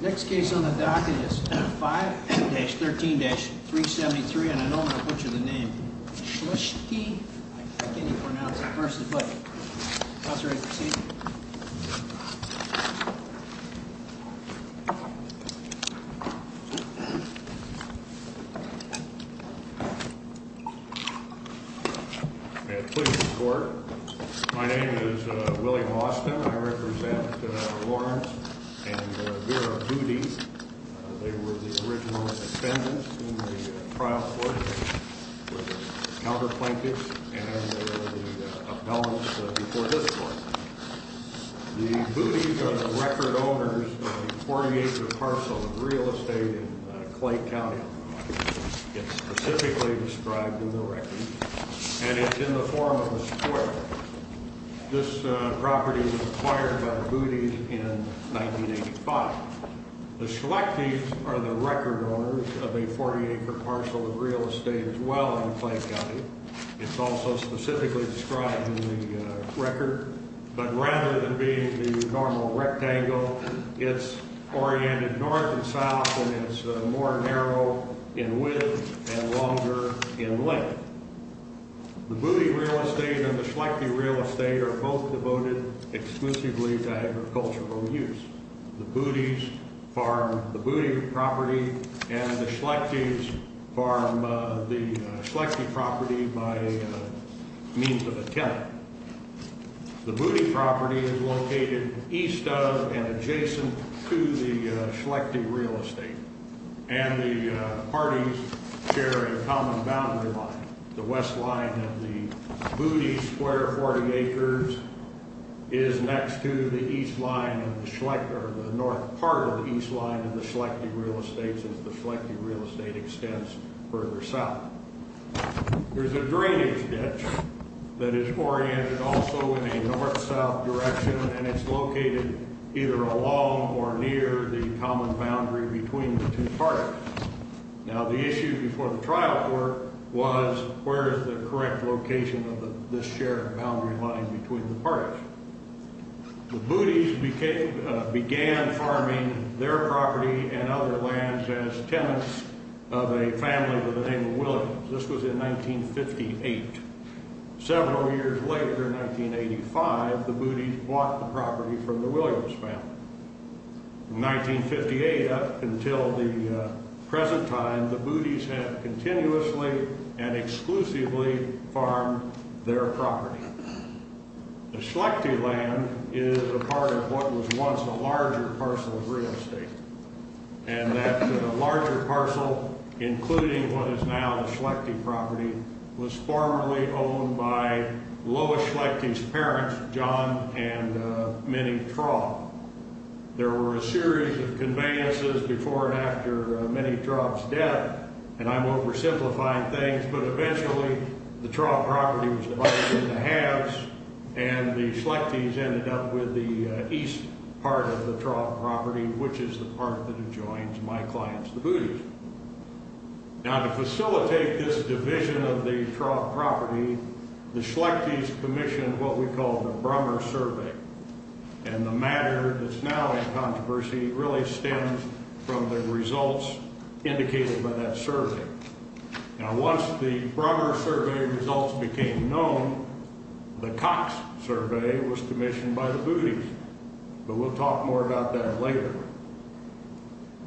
Next case on the docket is 5-13-373, and I don't want to butcher the name. Schlechte, I can't even pronounce it, versus Budde. Counselor, you ready to proceed? May I please report? My name is Willie Austin. I represent Lawrence and Vera Budde. They were the original defendants in the trial court. They were the counterplaintiffs, and they were the appellants before this court. The Buddes are the record owners of a 40-acre parcel of real estate in Clay County. It's specifically described in the record, and it's in the form of a square. This property was acquired by the Buddes in 1985. The Schlechte are the record owners of a 40-acre parcel of real estate as well in Clay County. It's also specifically described in the record, but rather than being the normal rectangle, it's oriented north and south, and it's more narrow in width and longer in length. The Budde real estate and the Schlechte real estate are both devoted exclusively to agricultural use. The Buddes farm the Budde property, and the Schlechtes farm the Schlechte property by means of a tenant. The Budde property is located east of and adjacent to the Schlechte real estate, and the parties share a common boundary line. The west line of the Budde square 40 acres is next to the east line of the Schlechte, or the north part of the east line of the Schlechte real estate, since the Schlechte real estate extends further south. There's a drainage ditch that is oriented also in a north-south direction, and it's located either along or near the common boundary between the two parties. Now, the issue before the trial court was, where is the correct location of this shared boundary line between the parties? The Buddes began farming their property and other lands as tenants of a family by the name of Williams. This was in 1958. Several years later, in 1985, the Buddes bought the property from the Williams family. From 1958 up until the present time, the Buddes have continuously and exclusively farmed their property. The Schlechte land is a part of what was once a larger parcel of real estate, and that larger parcel, including what is now the Schlechte property, was formerly owned by Lois Schlechte's parents, John and Minnie Traub. There were a series of conveyances before and after Minnie Traub's death, and I'm oversimplifying things, but eventually the Traub property was divided into halves, and the Schlechte's ended up with the east part of the Traub property, which is the part that adjoins my client's, the Buddes. Now, to facilitate this division of the Traub property, the Schlechte's commissioned what we call the Brummer Survey, and the matter that's now in controversy really stems from the results indicated by that survey. Now, once the Brummer Survey results became known, the Cox Survey was commissioned by the Buddes, but we'll talk more about that later.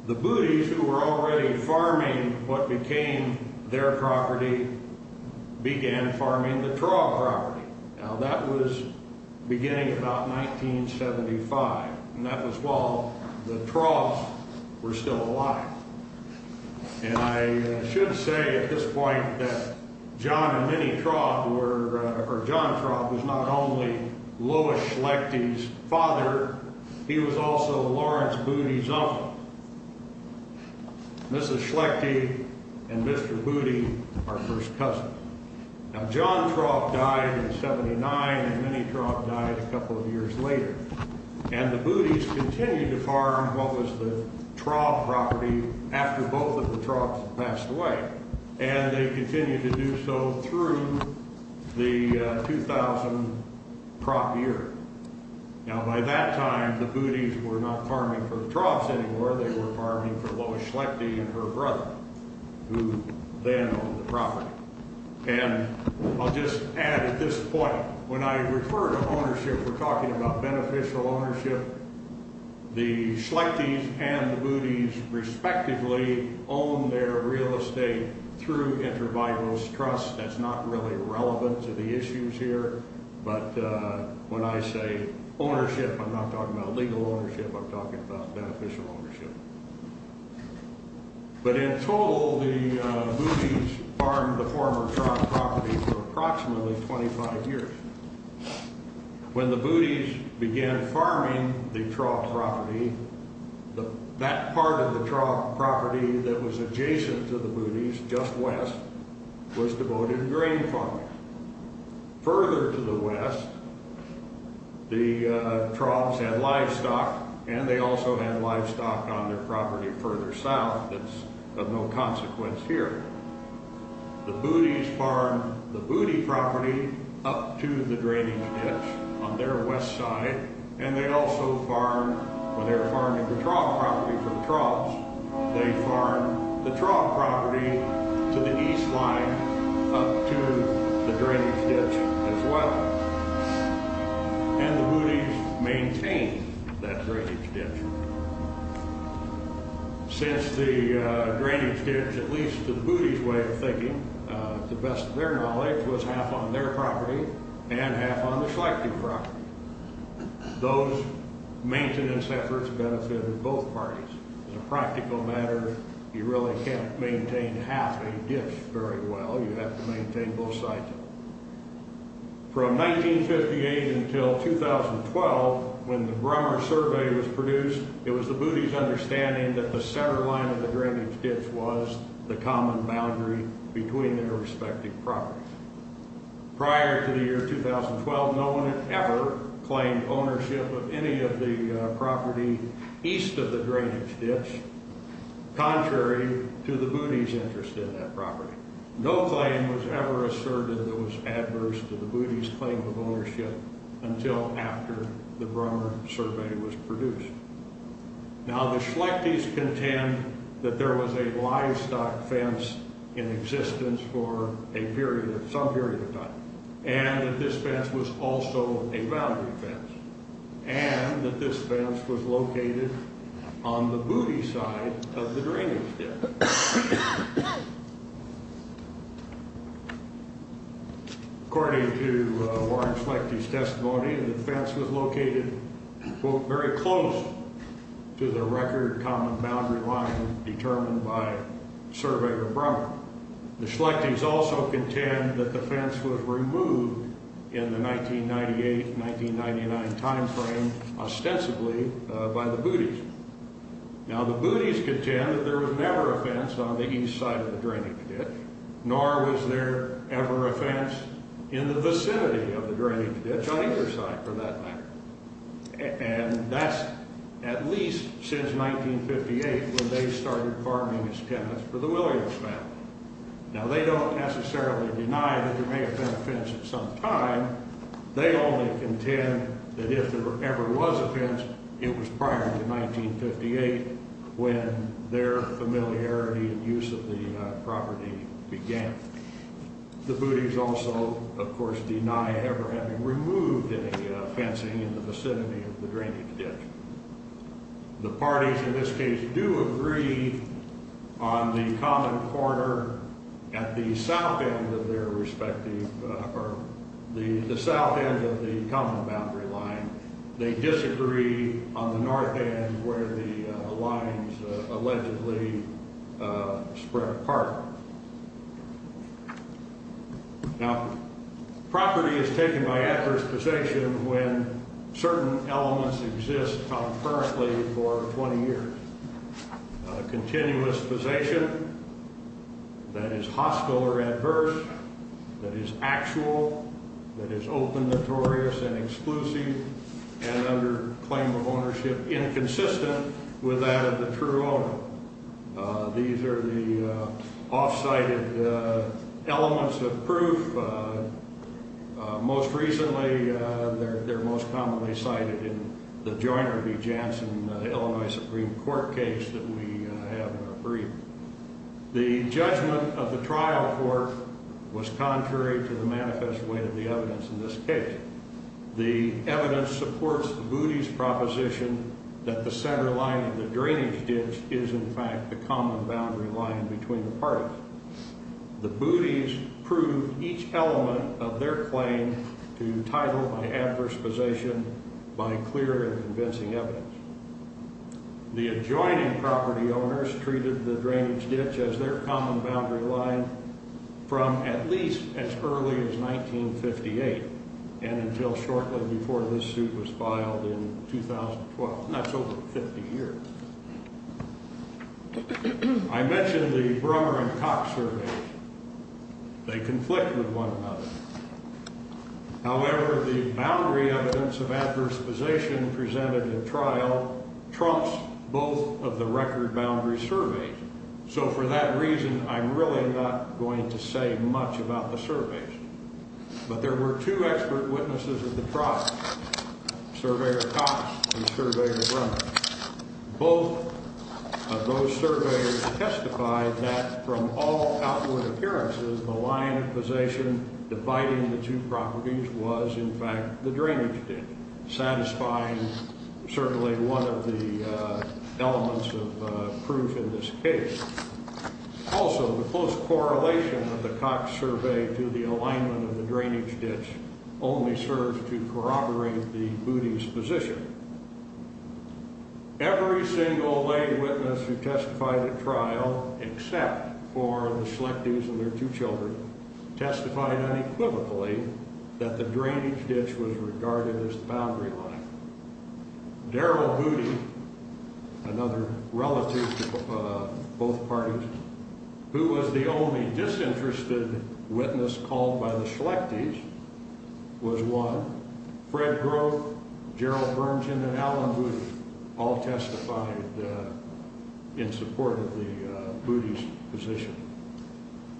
The Buddes, who were already farming what became their property, began farming the Traub property. Now, that was beginning about 1975, and that was while the Traub's were still alive. And I should say at this point that John and Minnie Traub were, or John Traub was not only Lois Schlechte's father, he was also Lawrence Budde's uncle. Mrs. Schlechte and Mr. Budde, our first cousin. Now, John Traub died in 79, and Minnie Traub died a couple of years later. And the Buddes continued to farm what was the Traub property after both of the Traub's had passed away, and they continued to do so through the 2000 Traub year. Now, by that time, the Buddes were not farming for the Traub's anymore, they were farming for Lois Schlechte and her brother, who then owned the property. And I'll just add at this point, when I refer to ownership, we're talking about beneficial ownership. The Schlechtes and the Buddes respectively own their real estate through inter-biose trusts. That's not really relevant to the issues here, but when I say ownership, I'm not talking about legal ownership, I'm talking about beneficial ownership. But in total, the Buddes farmed the former Traub property for approximately 25 years. When the Buddes began farming the Traub property, that part of the Traub property that was adjacent to the Buddes, just west, was devoted to grain farming. Further to the west, the Traub's had livestock, and they also had livestock on their property further south that's of no consequence here. The Buddes farmed the Budde property up to the drainage ditch on their west side, and they also farmed, when they were farming the Traub property from Traub's, they farmed the Traub property to the east line up to the drainage ditch as well. And the Buddes maintained that drainage ditch. Since the drainage ditch, at least to the Buddes' way of thinking, to the best of their knowledge, was half on their property and half on the Schlechtes' property, those maintenance efforts benefited both parties. As a practical matter, you really can't maintain half a ditch very well. You have to maintain both sides of it. From 1958 until 2012, when the Brummer survey was produced, it was the Buddes' understanding that the center line of the drainage ditch was the common boundary between their respective properties. Prior to the year 2012, no one had ever claimed ownership of any of the property east of the drainage ditch, contrary to the Buddes' interest in that property. No claim was ever asserted that was adverse to the Buddes' claim of ownership until after the Brummer survey was produced. Now, the Schlechtes contend that there was a livestock fence in existence for a period, some period of time, and that this fence was also a boundary fence, and that this fence was located on the Budde side of the drainage ditch. According to Warren Schlechte's testimony, the fence was located, quote, very close to the record common boundary line determined by Surveyor Brummer. The Schlechtes also contend that the fence was removed in the 1998-1999 timeframe, ostensibly, by the Buddes. Now, the Buddes contend that there was never a fence on the east side of the drainage ditch, nor was there ever a fence in the vicinity of the drainage ditch on either side, for that matter. And that's at least since 1958 when they started farming as tenants for the Williams family. Now, they don't necessarily deny that there may have been a fence at some time. They only contend that if there ever was a fence, it was prior to 1958 when their familiarity and use of the property began. The Buddes also, of course, deny ever having removed any fencing in the vicinity of the drainage ditch. The parties, in this case, do agree on the common corner at the south end of their respective, or the south end of the common boundary line. They disagree on the north end where the lines allegedly spread apart. Now, property is taken by adverse possession when certain elements exist concurrently for 20 years. Continuous possession, that is hostile or adverse, that is actual, that is open, notorious, and exclusive, and under claim of ownership inconsistent with that of the true owner. These are the off-cited elements of proof. Most recently, they're most commonly cited in the Joyner v. Jansen Illinois Supreme Court case that we have in our brief. The judgment of the trial court was contrary to the manifest way of the evidence in this case. The evidence supports the Buddes proposition that the center line of the drainage ditch is, in fact, the common boundary line between the parties. The Buddes prove each element of their claim to title by adverse possession by clear and convincing evidence. The adjoining property owners treated the drainage ditch as their common boundary line from at least as early as 1958, and until shortly before this suit was filed in 2012. That's over 50 years. I mentioned the Brummer and Cox surveys. They conflict with one another. However, the boundary evidence of adverse possession presented in trial trumps both of the record boundary surveys. So for that reason, I'm really not going to say much about the surveys. But there were two expert witnesses of the trial, Surveyor Cox and Surveyor Brummer. Both of those surveys testified that from all outward appearances, the line of possession dividing the two properties was, in fact, the drainage ditch, satisfying certainly one of the elements of proof in this case. Also, the close correlation of the Cox survey to the alignment of the drainage ditch only serves to corroborate the Buddes position. Every single lay witness who testified at trial, except for the selectives and their two children, testified unequivocally that the drainage ditch was regarded as the boundary line. Daryl Budde, another relative of both parties, who was the only disinterested witness called by the selectives, was one. Fred Grove, Gerald Bernson, and Alan Budde all testified in support of the Buddes position.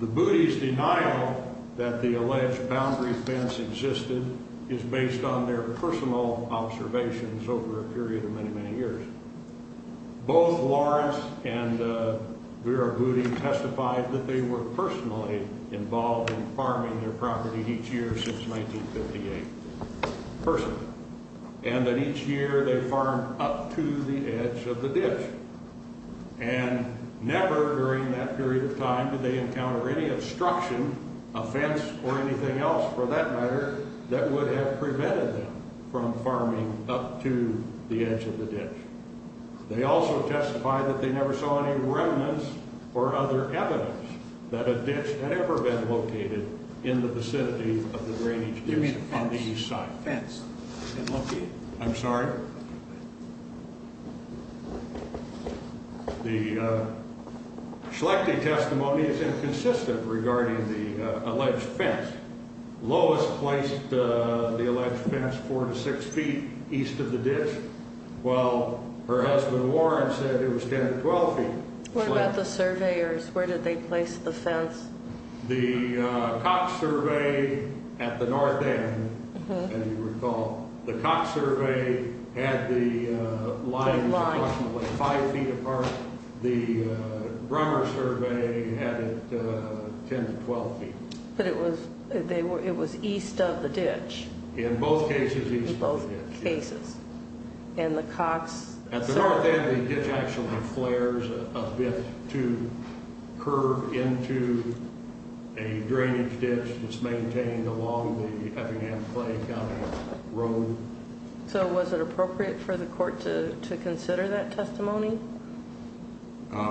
The Buddes' denial that the alleged boundary fence existed is based on their personal observations over a period of many, many years. Both Lawrence and Vera Budde testified that they were personally involved in farming their property each year since 1958. Personally. And that each year they farmed up to the edge of the ditch. And never during that period of time did they encounter any obstruction, a fence or anything else for that matter, that would have prevented them from farming up to the edge of the ditch. They also testified that they never saw any remnants or other evidence that a ditch had ever been located in the vicinity of the drainage ditch on the east side. I'm sorry? The selecting testimony is inconsistent regarding the alleged fence. Lois placed the alleged fence four to six feet east of the ditch, while her husband Warren said it was ten to twelve feet. What about the surveyors? Where did they place the fence? The Cox survey at the north end, as you recall, the Cox survey had the lines approximately five feet apart. The Brummer survey had it ten to twelve feet. But it was east of the ditch. In both cases east of the ditch. In both cases. And the Cox... At the north end the ditch actually flares a bit to curve into a drainage ditch that's maintained along the Effingham County road. So was it appropriate for the court to consider that testimony?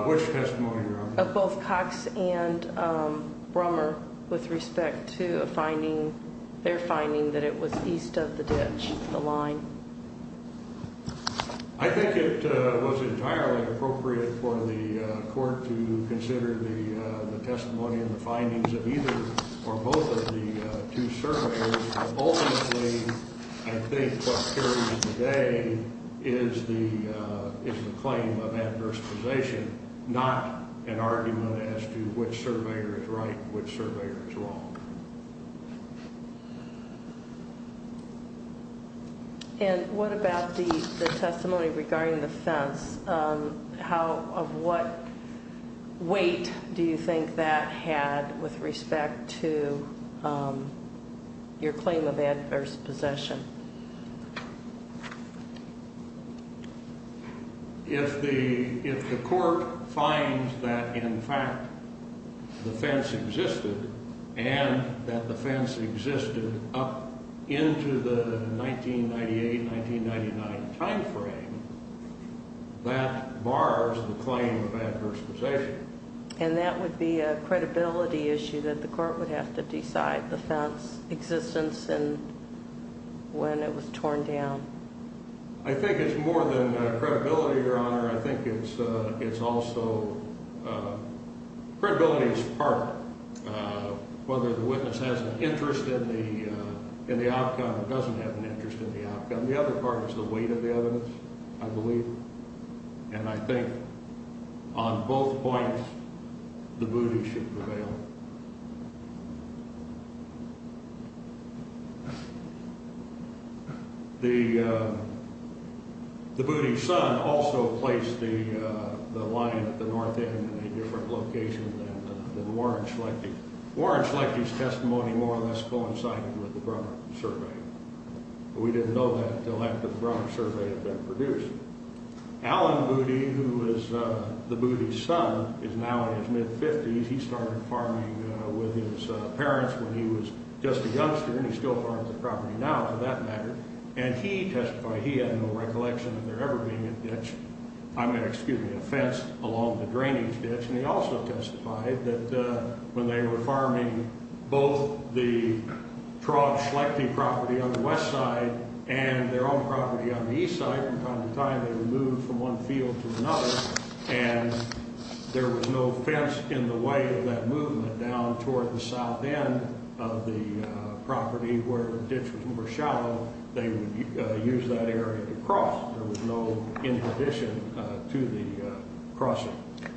Which testimony, Your Honor? Of both Cox and Brummer with respect to a finding, their finding that it was east of the ditch, the line. I think it was entirely appropriate for the court to consider the testimony and the findings of either or both of the two surveyors. Ultimately, I think what carries the day is the claim of adversitization, not an argument as to which surveyor is right and which surveyor is wrong. And what about the testimony regarding the fence? How, of what weight do you think that had with respect to your claim of adverse possession? If the court finds that in fact the fence existed and that the fence existed up into the 1998-1999 time frame, that bars the claim of adverse possession. And that would be a credibility issue that the court would have to decide the fence existence and when it was torn down. I think it's more than credibility, Your Honor. I think it's also, credibility is part. Whether the witness has an interest in the outcome or doesn't have an interest in the outcome. The other part is the weight of the evidence, I believe. And I think on both points, the booty should prevail. The booty's son also placed the line at the north end in a different location than Warren Schlechty. Warren Schlechty's testimony more or less coincided with the Brummer survey. We didn't know that until after the Brummer survey had been produced. Alan Booty, who is the booty's son, is now in his mid-fifties. He started farming with his parents when he was just a youngster and he still farms the property now for that matter. And he testified, he had no recollection of there ever being a ditch, I mean, excuse me, a fence along the drainage ditch. And he also testified that when they were farming both the Traub-Schlechty property on the west side and their own property on the east side, from time to time they would move from one field to another and there was no fence in the way of that movement down toward the south end of the property where ditches were shallow. They would use that area to cross. There was no interdiction to the crossing.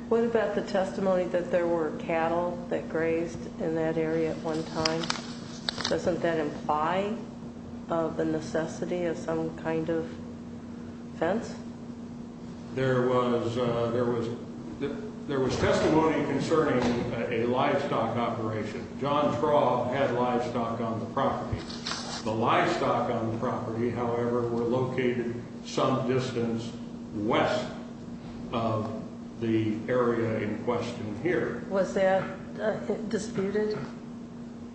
What about the testimony that there were cattle that grazed in that area at one time? Doesn't that imply the necessity of some kind of fence? There was testimony concerning a livestock operation. John Traub had livestock on the property. The livestock on the property, however, were located some distance west of the area in question here. Was that disputed?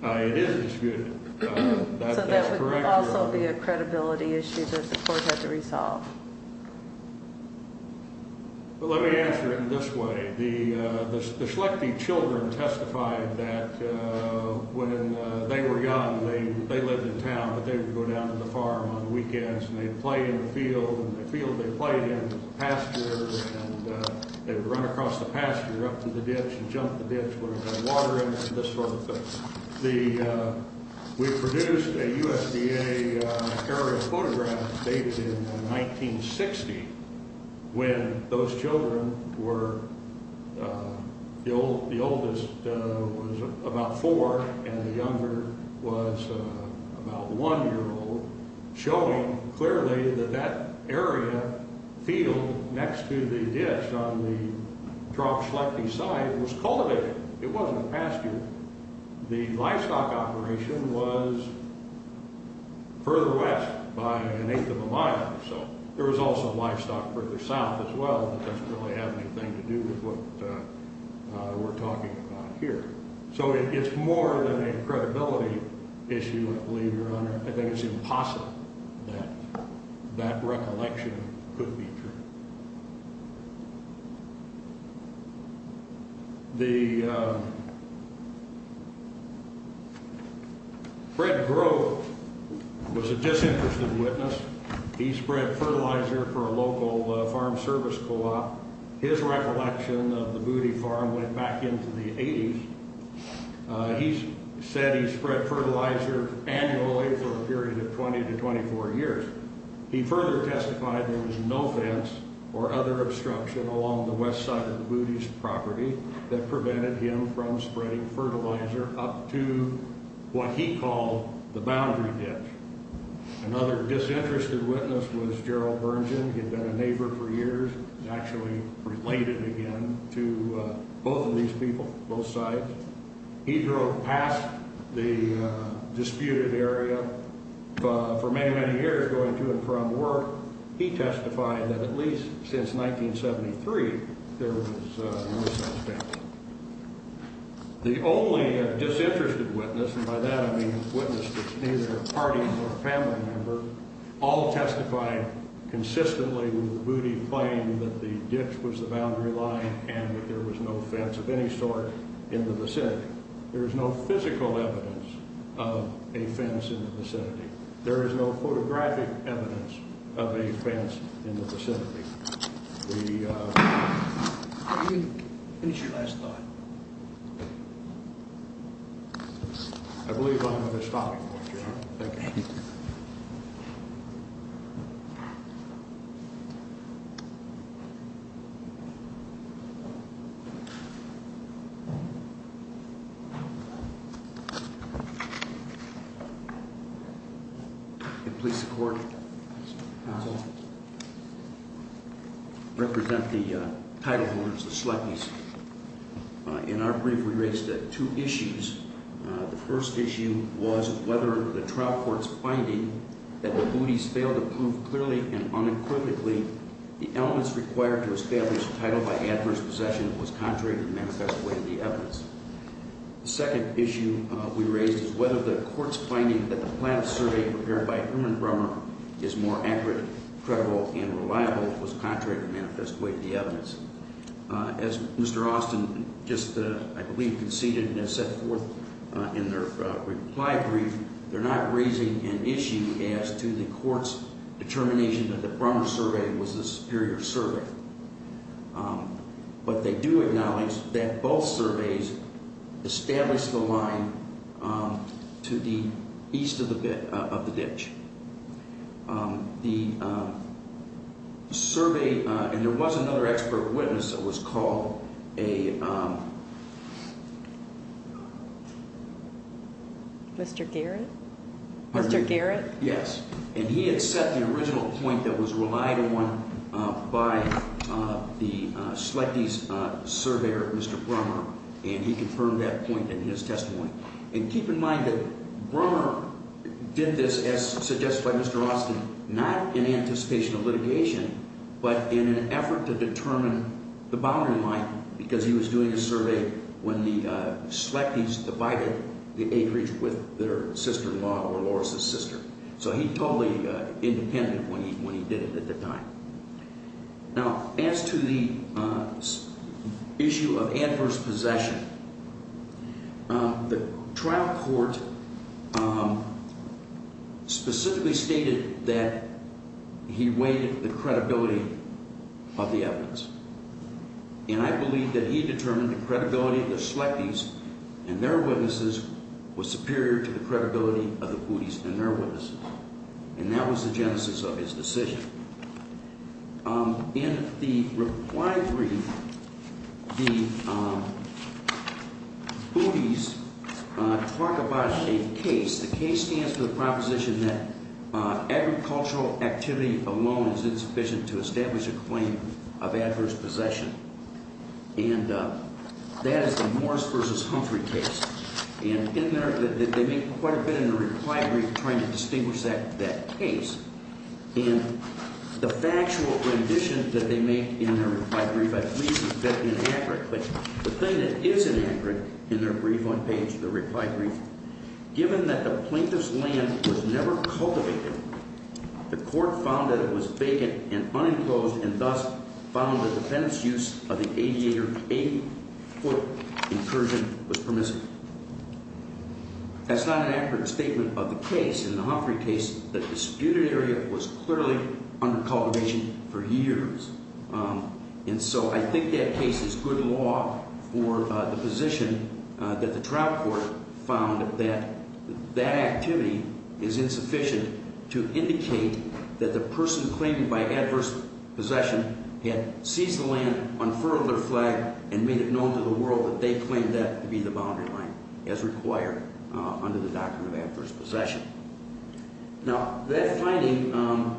It is disputed. So that would also be a credibility issue that the court had to resolve. Let me answer it in this way. The Schlechty children testified that when they were young, they lived in town, but they would go down to the farm on the weekends and they would play in the field, and the field they played in was a pasture, and they would run across the pasture up to the ditch and jump the ditch where there was water in it and this sort of thing. We produced a USDA area photograph dated in 1960 when those children were, the oldest was about four and the younger was about one year old, showing clearly that that area field next to the ditch on the Traub-Schlechty side was cultivated. It wasn't a pasture. The livestock operation was further west by an eighth of a mile or so. There was also livestock further south as well, but that doesn't really have anything to do with what we're talking about here. So it's more than a credibility issue, I believe, Your Honor. I think it's impossible that that recollection could be true. Fred Grove was a disinterested witness. He spread fertilizer for a local farm service co-op. His recollection of the Booty Farm went back into the 80s. He said he spread fertilizer annually for a period of 20 to 24 years. He further testified there was no fence or other obstruction along the west side of the Booty's property that prevented him from spreading fertilizer up to what he called the boundary ditch. Another disinterested witness was Gerald Bernson. He had been a neighbor for years and actually related again to both of these people, both sides. He drove past the disputed area for many, many years going to and from work. He testified that at least since 1973 there was no such fence. The only disinterested witness, and by that I mean a witness that's neither a party nor a family member, all testified consistently with Booty claiming that the ditch was the boundary line and that there was no fence of any sort in the vicinity. There is no physical evidence of a fence in the vicinity. There is no photographic evidence of a fence in the vicinity. The... Please support. Represent the title holders, the Schleppys. In our brief we raised two issues. The first issue was whether the trial court's finding that the Booty's failed to prove clearly and unequivocally the elements required to establish a title by adverse possession was contrary to the manifest way of the evidence. The second issue we raised is whether the court's finding that the plan of survey prepared by Herman Brummer is more accurate, credible, and reliable was contrary to the manifest way of the evidence. As Mr. Austin just, I believe, conceded and has set forth in their reply brief, they're not raising an issue as to the court's determination that the Brummer survey was the superior survey. But they do acknowledge that both surveys established the line to the east of the ditch. The survey, and there was another expert witness that was called a... Mr. Garrett? Mr. Garrett? Yes. And he had set the original point that was relied upon by the Schleppys surveyor, Mr. Brummer, and he confirmed that point in his testimony. And keep in mind that Brummer did this as suggested by Mr. Austin, not in anticipation of litigation, but in an effort to determine the boundary line because he was doing a survey when the Schleppys divided the acreage with their sister-in-law or Laura's sister. So he totally independent when he did it at the time. Now, as to the issue of adverse possession, the trial court specifically stated that he weighed the credibility of the evidence. And I believe that he determined the credibility of the Schleppys and their witnesses was superior to the credibility of the Bootys and their witnesses. And that was the genesis of his decision. In the reply brief, the Bootys talk about a case. The case stands for the proposition that agricultural activity alone is insufficient to establish a claim of adverse possession. And that is the Morris v. Humphrey case. And in there, they make quite a bit in the reply brief trying to distinguish that case. And the factual rendition that they make in their reply brief, I believe, is a bit inaccurate. But the thing that is inaccurate in their brief on page, their reply brief, given that the plaintiff's land was never cultivated, the court found that it was vacant and unenclosed and thus found that the defendant's use of the 80-foot incursion was permissible. That's not an accurate statement of the case in the Humphrey case, but the disputed area was clearly under cultivation for years. And so I think that case is good law for the position that the trial court found that that activity is insufficient to indicate that the person claimed by adverse possession had seized the land, unfurled their flag, and made it known to the world that they claimed that to be the boundary line as required under the doctrine of adverse possession. Now, that finding,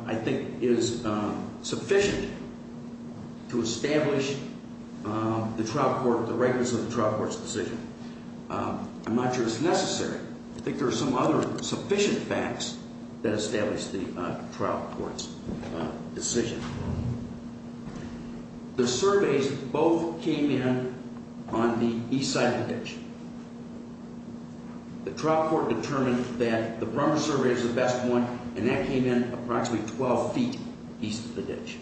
I think, is sufficient to establish the trial court, the rightness of the trial court's decision. I'm not sure it's necessary. I think there are some other sufficient facts that establish the trial court's decision. The surveys both came in on the Eastside condition. The trial court determined that the Brummer survey is the best one, and that came in approximately 12 feet east of the ditch.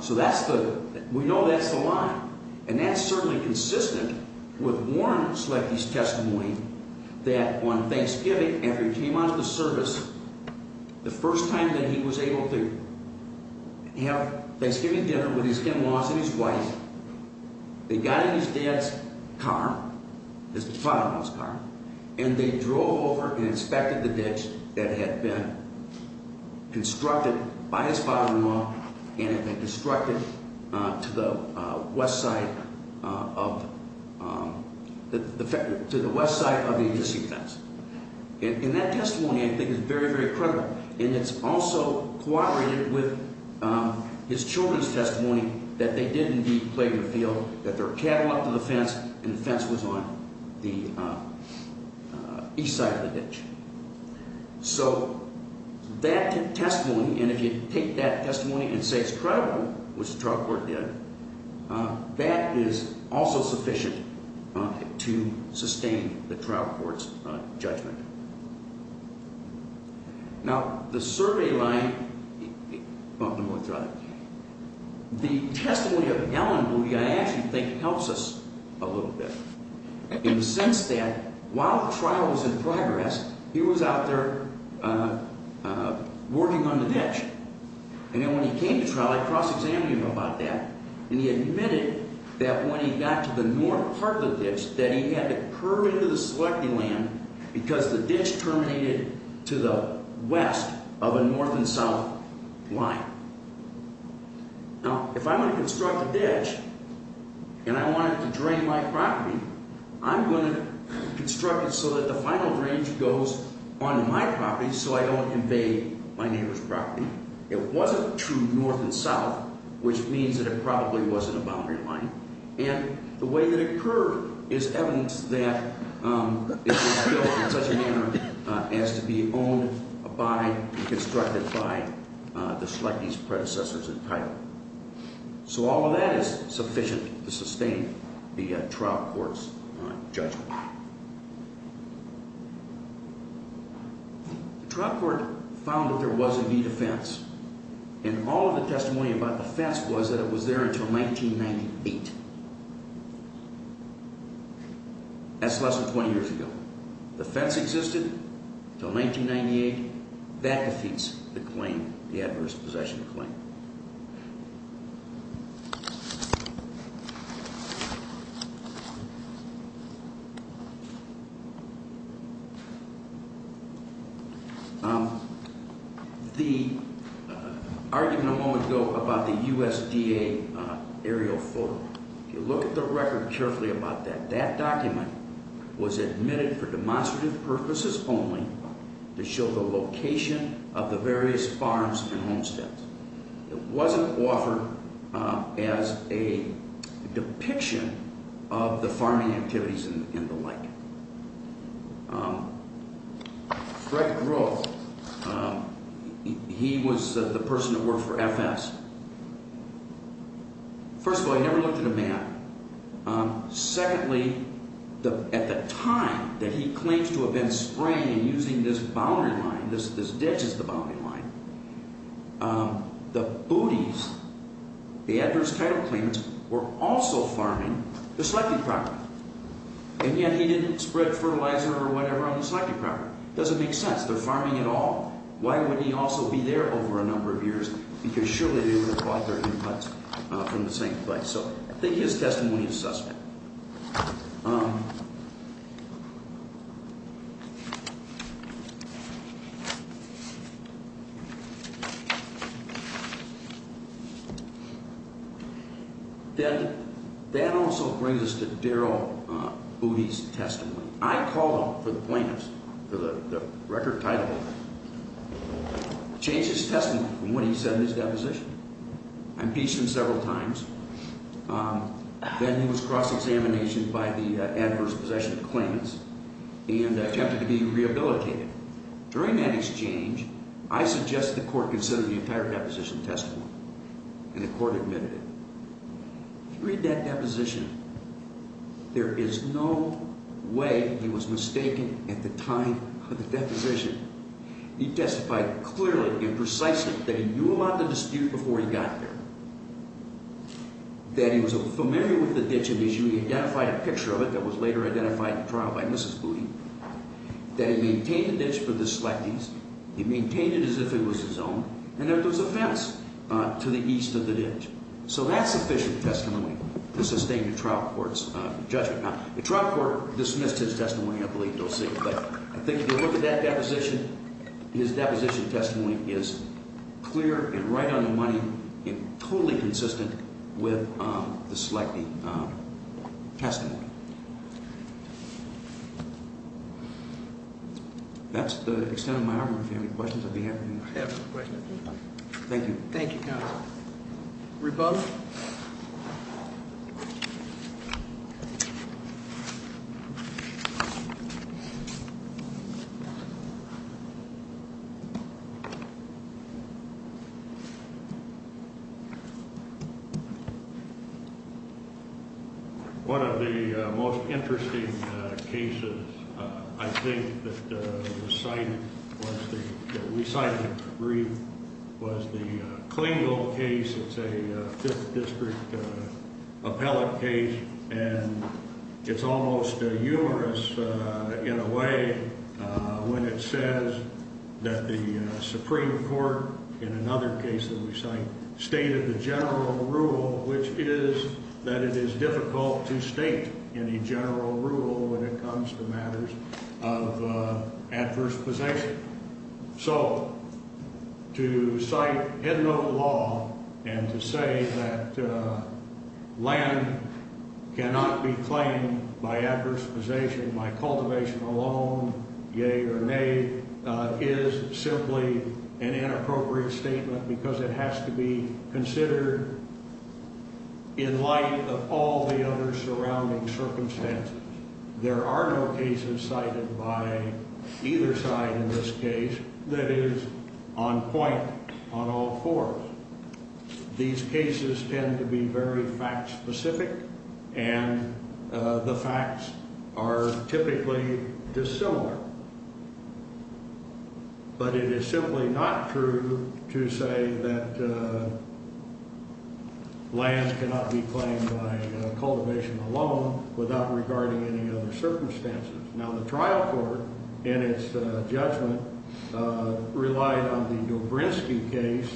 So that's the—we know that's the line, and that's certainly consistent with Warren Slecky's testimony that on Thanksgiving, after he came onto the service, the first time that he was able to have Thanksgiving dinner with his in-laws and his wife, they got in his dad's car, his father-in-law's car, and they drove over and inspected the ditch that had been constructed by his father-in-law and had been constructed to the west side of the existing fence. And that testimony, I think, is very, very credible. And it's also corroborated with his children's testimony that they did indeed play their field, that their cattle up to the fence, and the fence was on the east side of the ditch. So that testimony, and if you take that testimony and say it's credible, which the trial court did, that is also sufficient to sustain the trial court's judgment. Now, the survey line—well, no more trial. The testimony of Ellen, who I actually think helps us a little bit, in the sense that while the trial was in progress, he was out there working on the ditch. And then when he came to trial, I cross-examined him about that, and he admitted that when he got to the north part of the ditch, that he had to curve into the selecting land because the ditch terminated to the west of a north and south line. Now, if I'm going to construct a ditch, and I want it to drain my property, I'm going to construct it so that the final drainage goes onto my property, so I don't invade my neighbor's property. It wasn't true north and south, which means that it probably wasn't a boundary line. And the way that it curved is evidence that it was built in such a manner as to be owned by and constructed by the selectee's predecessors in title. So all of that is sufficient to sustain the trial court's judgment. The trial court found that there was indeed a fence, and all of the testimony about the fence was that it was there until 1998. That's less than 20 years ago. The fence existed until 1998. That defeats the claim, the adverse possession claim. The argument a moment ago about the USDA aerial photo, if you look at the record carefully about that, that document was admitted for demonstrative purposes only to show the location of the various farms and homesteads. It wasn't offered as a depiction of the farming activities and the like. Fred Groh, he was the person that worked for FS. First of all, he never looked at a map. Secondly, at the time that he claims to have been spraying and using this boundary line, this ditch is the boundary line, the Booties, the adverse title claimants, were also farming the selective property. And yet he didn't spread fertilizer or whatever on the selective property. It doesn't make sense. They're farming it all. Why would he also be there over a number of years? Because surely they would have bought their inputs from the same place. So I think his testimony is suspect. Then that also brings us to Darrell Bootie's testimony. I called for the plaintiffs, for the record title, changed his testimony from what he said in his deposition. I impeached him several times. Then he was cross-examined by the adverse possession claimants and attempted to be rehabilitated. During that exchange, I suggested the court consider the entire deposition testimony, and the court admitted it. If you read that deposition, there is no way he was mistaken at the time of the deposition. He testified clearly and precisely that he knew about the dispute before he got there, that he was familiar with the ditch and he identified a picture of it that was later identified in trial by Mrs. Bootie, that he maintained the ditch for the selectees, he maintained it as if it was his own, and that there was a fence to the east of the ditch. So that's sufficient testimony to sustain the trial court's judgment. Now, the trial court dismissed his testimony, I believe. They'll see it. But I think if you look at that deposition, his deposition testimony is clear and right on the money and totally consistent with the selectee testimony. That's the extent of my argument. If you have any questions, I'd be happy to answer them. I have no questions. Thank you. Thank you, counsel. Rebuff? Rebuff? One of the most interesting cases, I think, that was cited, that we cited in the brief, was the Klingel case. It's a Fifth District appellate case, and it's almost humorous in a way when it says that the Supreme Court, in another case that we cite, stated the general rule, which is that it is difficult to state any general rule when it comes to matters of adverse possession. So to cite headnote law and to say that land cannot be claimed by adverse possession by cultivation alone, yea or nay, is simply an inappropriate statement because it has to be considered in light of all the other surrounding circumstances. There are no cases cited by either side in this case that is on point on all fours. These cases tend to be very fact-specific, and the facts are typically dissimilar. But it is simply not true to say that land cannot be claimed by cultivation alone without regarding any other circumstances. Now, the trial court, in its judgment, relied on the Dobrinsky case,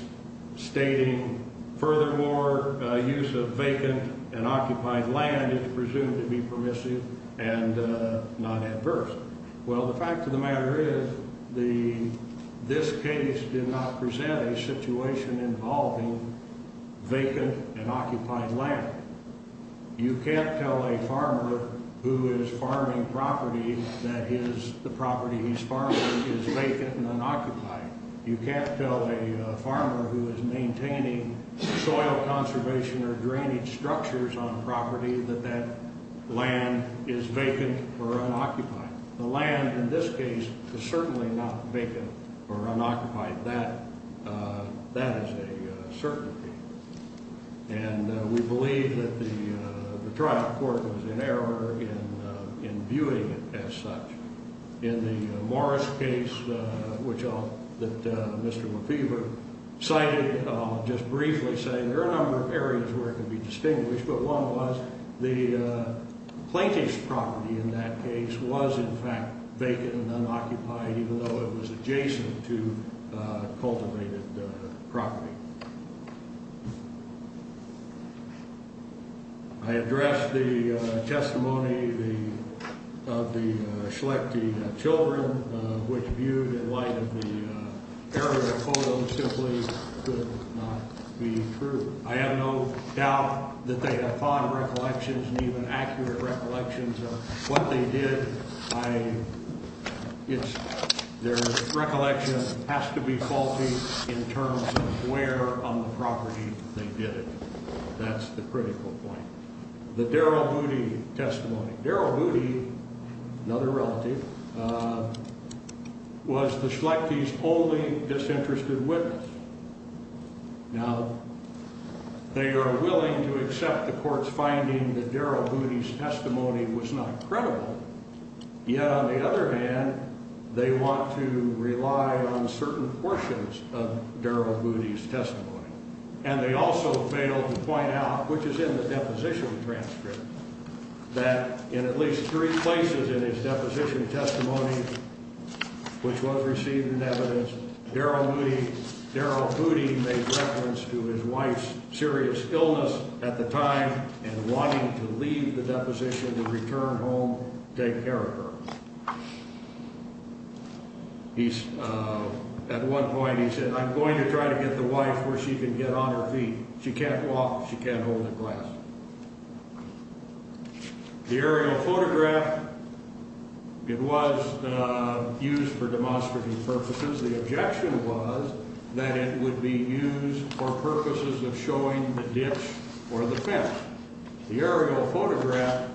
stating, furthermore, use of vacant and occupied land is presumed to be permissive and not adverse. Well, the fact of the matter is this case did not present a situation involving vacant and occupied land. You can't tell a farmer who is farming property that the property he's farming is vacant and unoccupied. You can't tell a farmer who is maintaining soil conservation or drainage structures on property that that land is vacant or unoccupied. The land in this case is certainly not vacant or unoccupied. That is a certainty. And we believe that the trial court was in error in viewing it as such. In the Morris case, which I'll, that Mr. McPheeber cited, I'll just briefly say there are a number of areas where it can be distinguished, but one was the plaintiff's property in that case was, in fact, vacant and unoccupied, even though it was adjacent to cultivated property. I addressed the testimony of the Schlechte children, which viewed in light of the error in the column simply could not be true. I have no doubt that they have fond recollections and even accurate recollections of what they did. I, it's, their recollection has to be faulty in terms of where on the property they did it. That's the critical point. The Darrell Booty testimony. Darrell Booty, another relative, was the Schlechte's only disinterested witness. Now, they are willing to accept the court's finding that Darrell Booty's testimony was not credible. Yet, on the other hand, they want to rely on certain portions of Darrell Booty's testimony. And they also failed to point out, which is in the deposition transcript, that in at least three places in his deposition testimony, which was received in evidence, Darrell Booty made reference to his wife's serious illness at the time and wanting to leave the deposition to return home and take care of her. He's, at one point he said, I'm going to try to get the wife where she can get on her feet. She can't walk, she can't hold a glass. The aerial photograph, it was used for demonstrative purposes. The objection was that it would be used for purposes of showing the ditch or the fence. The aerial photograph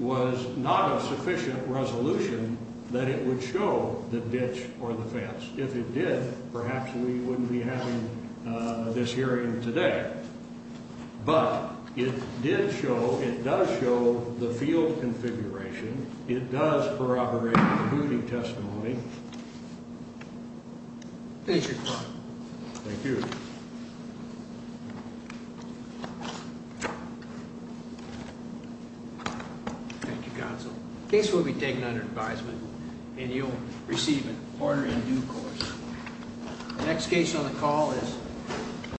was not of sufficient resolution that it would show the ditch or the fence. If it did, perhaps we wouldn't be having this hearing today. But it did show, it does show the field configuration. It does corroborate the Booty testimony. Thank you, Your Honor. Thank you. Thank you, Counsel. The case will be taken under advisement and you'll receive an order in due course. The next case on the call is...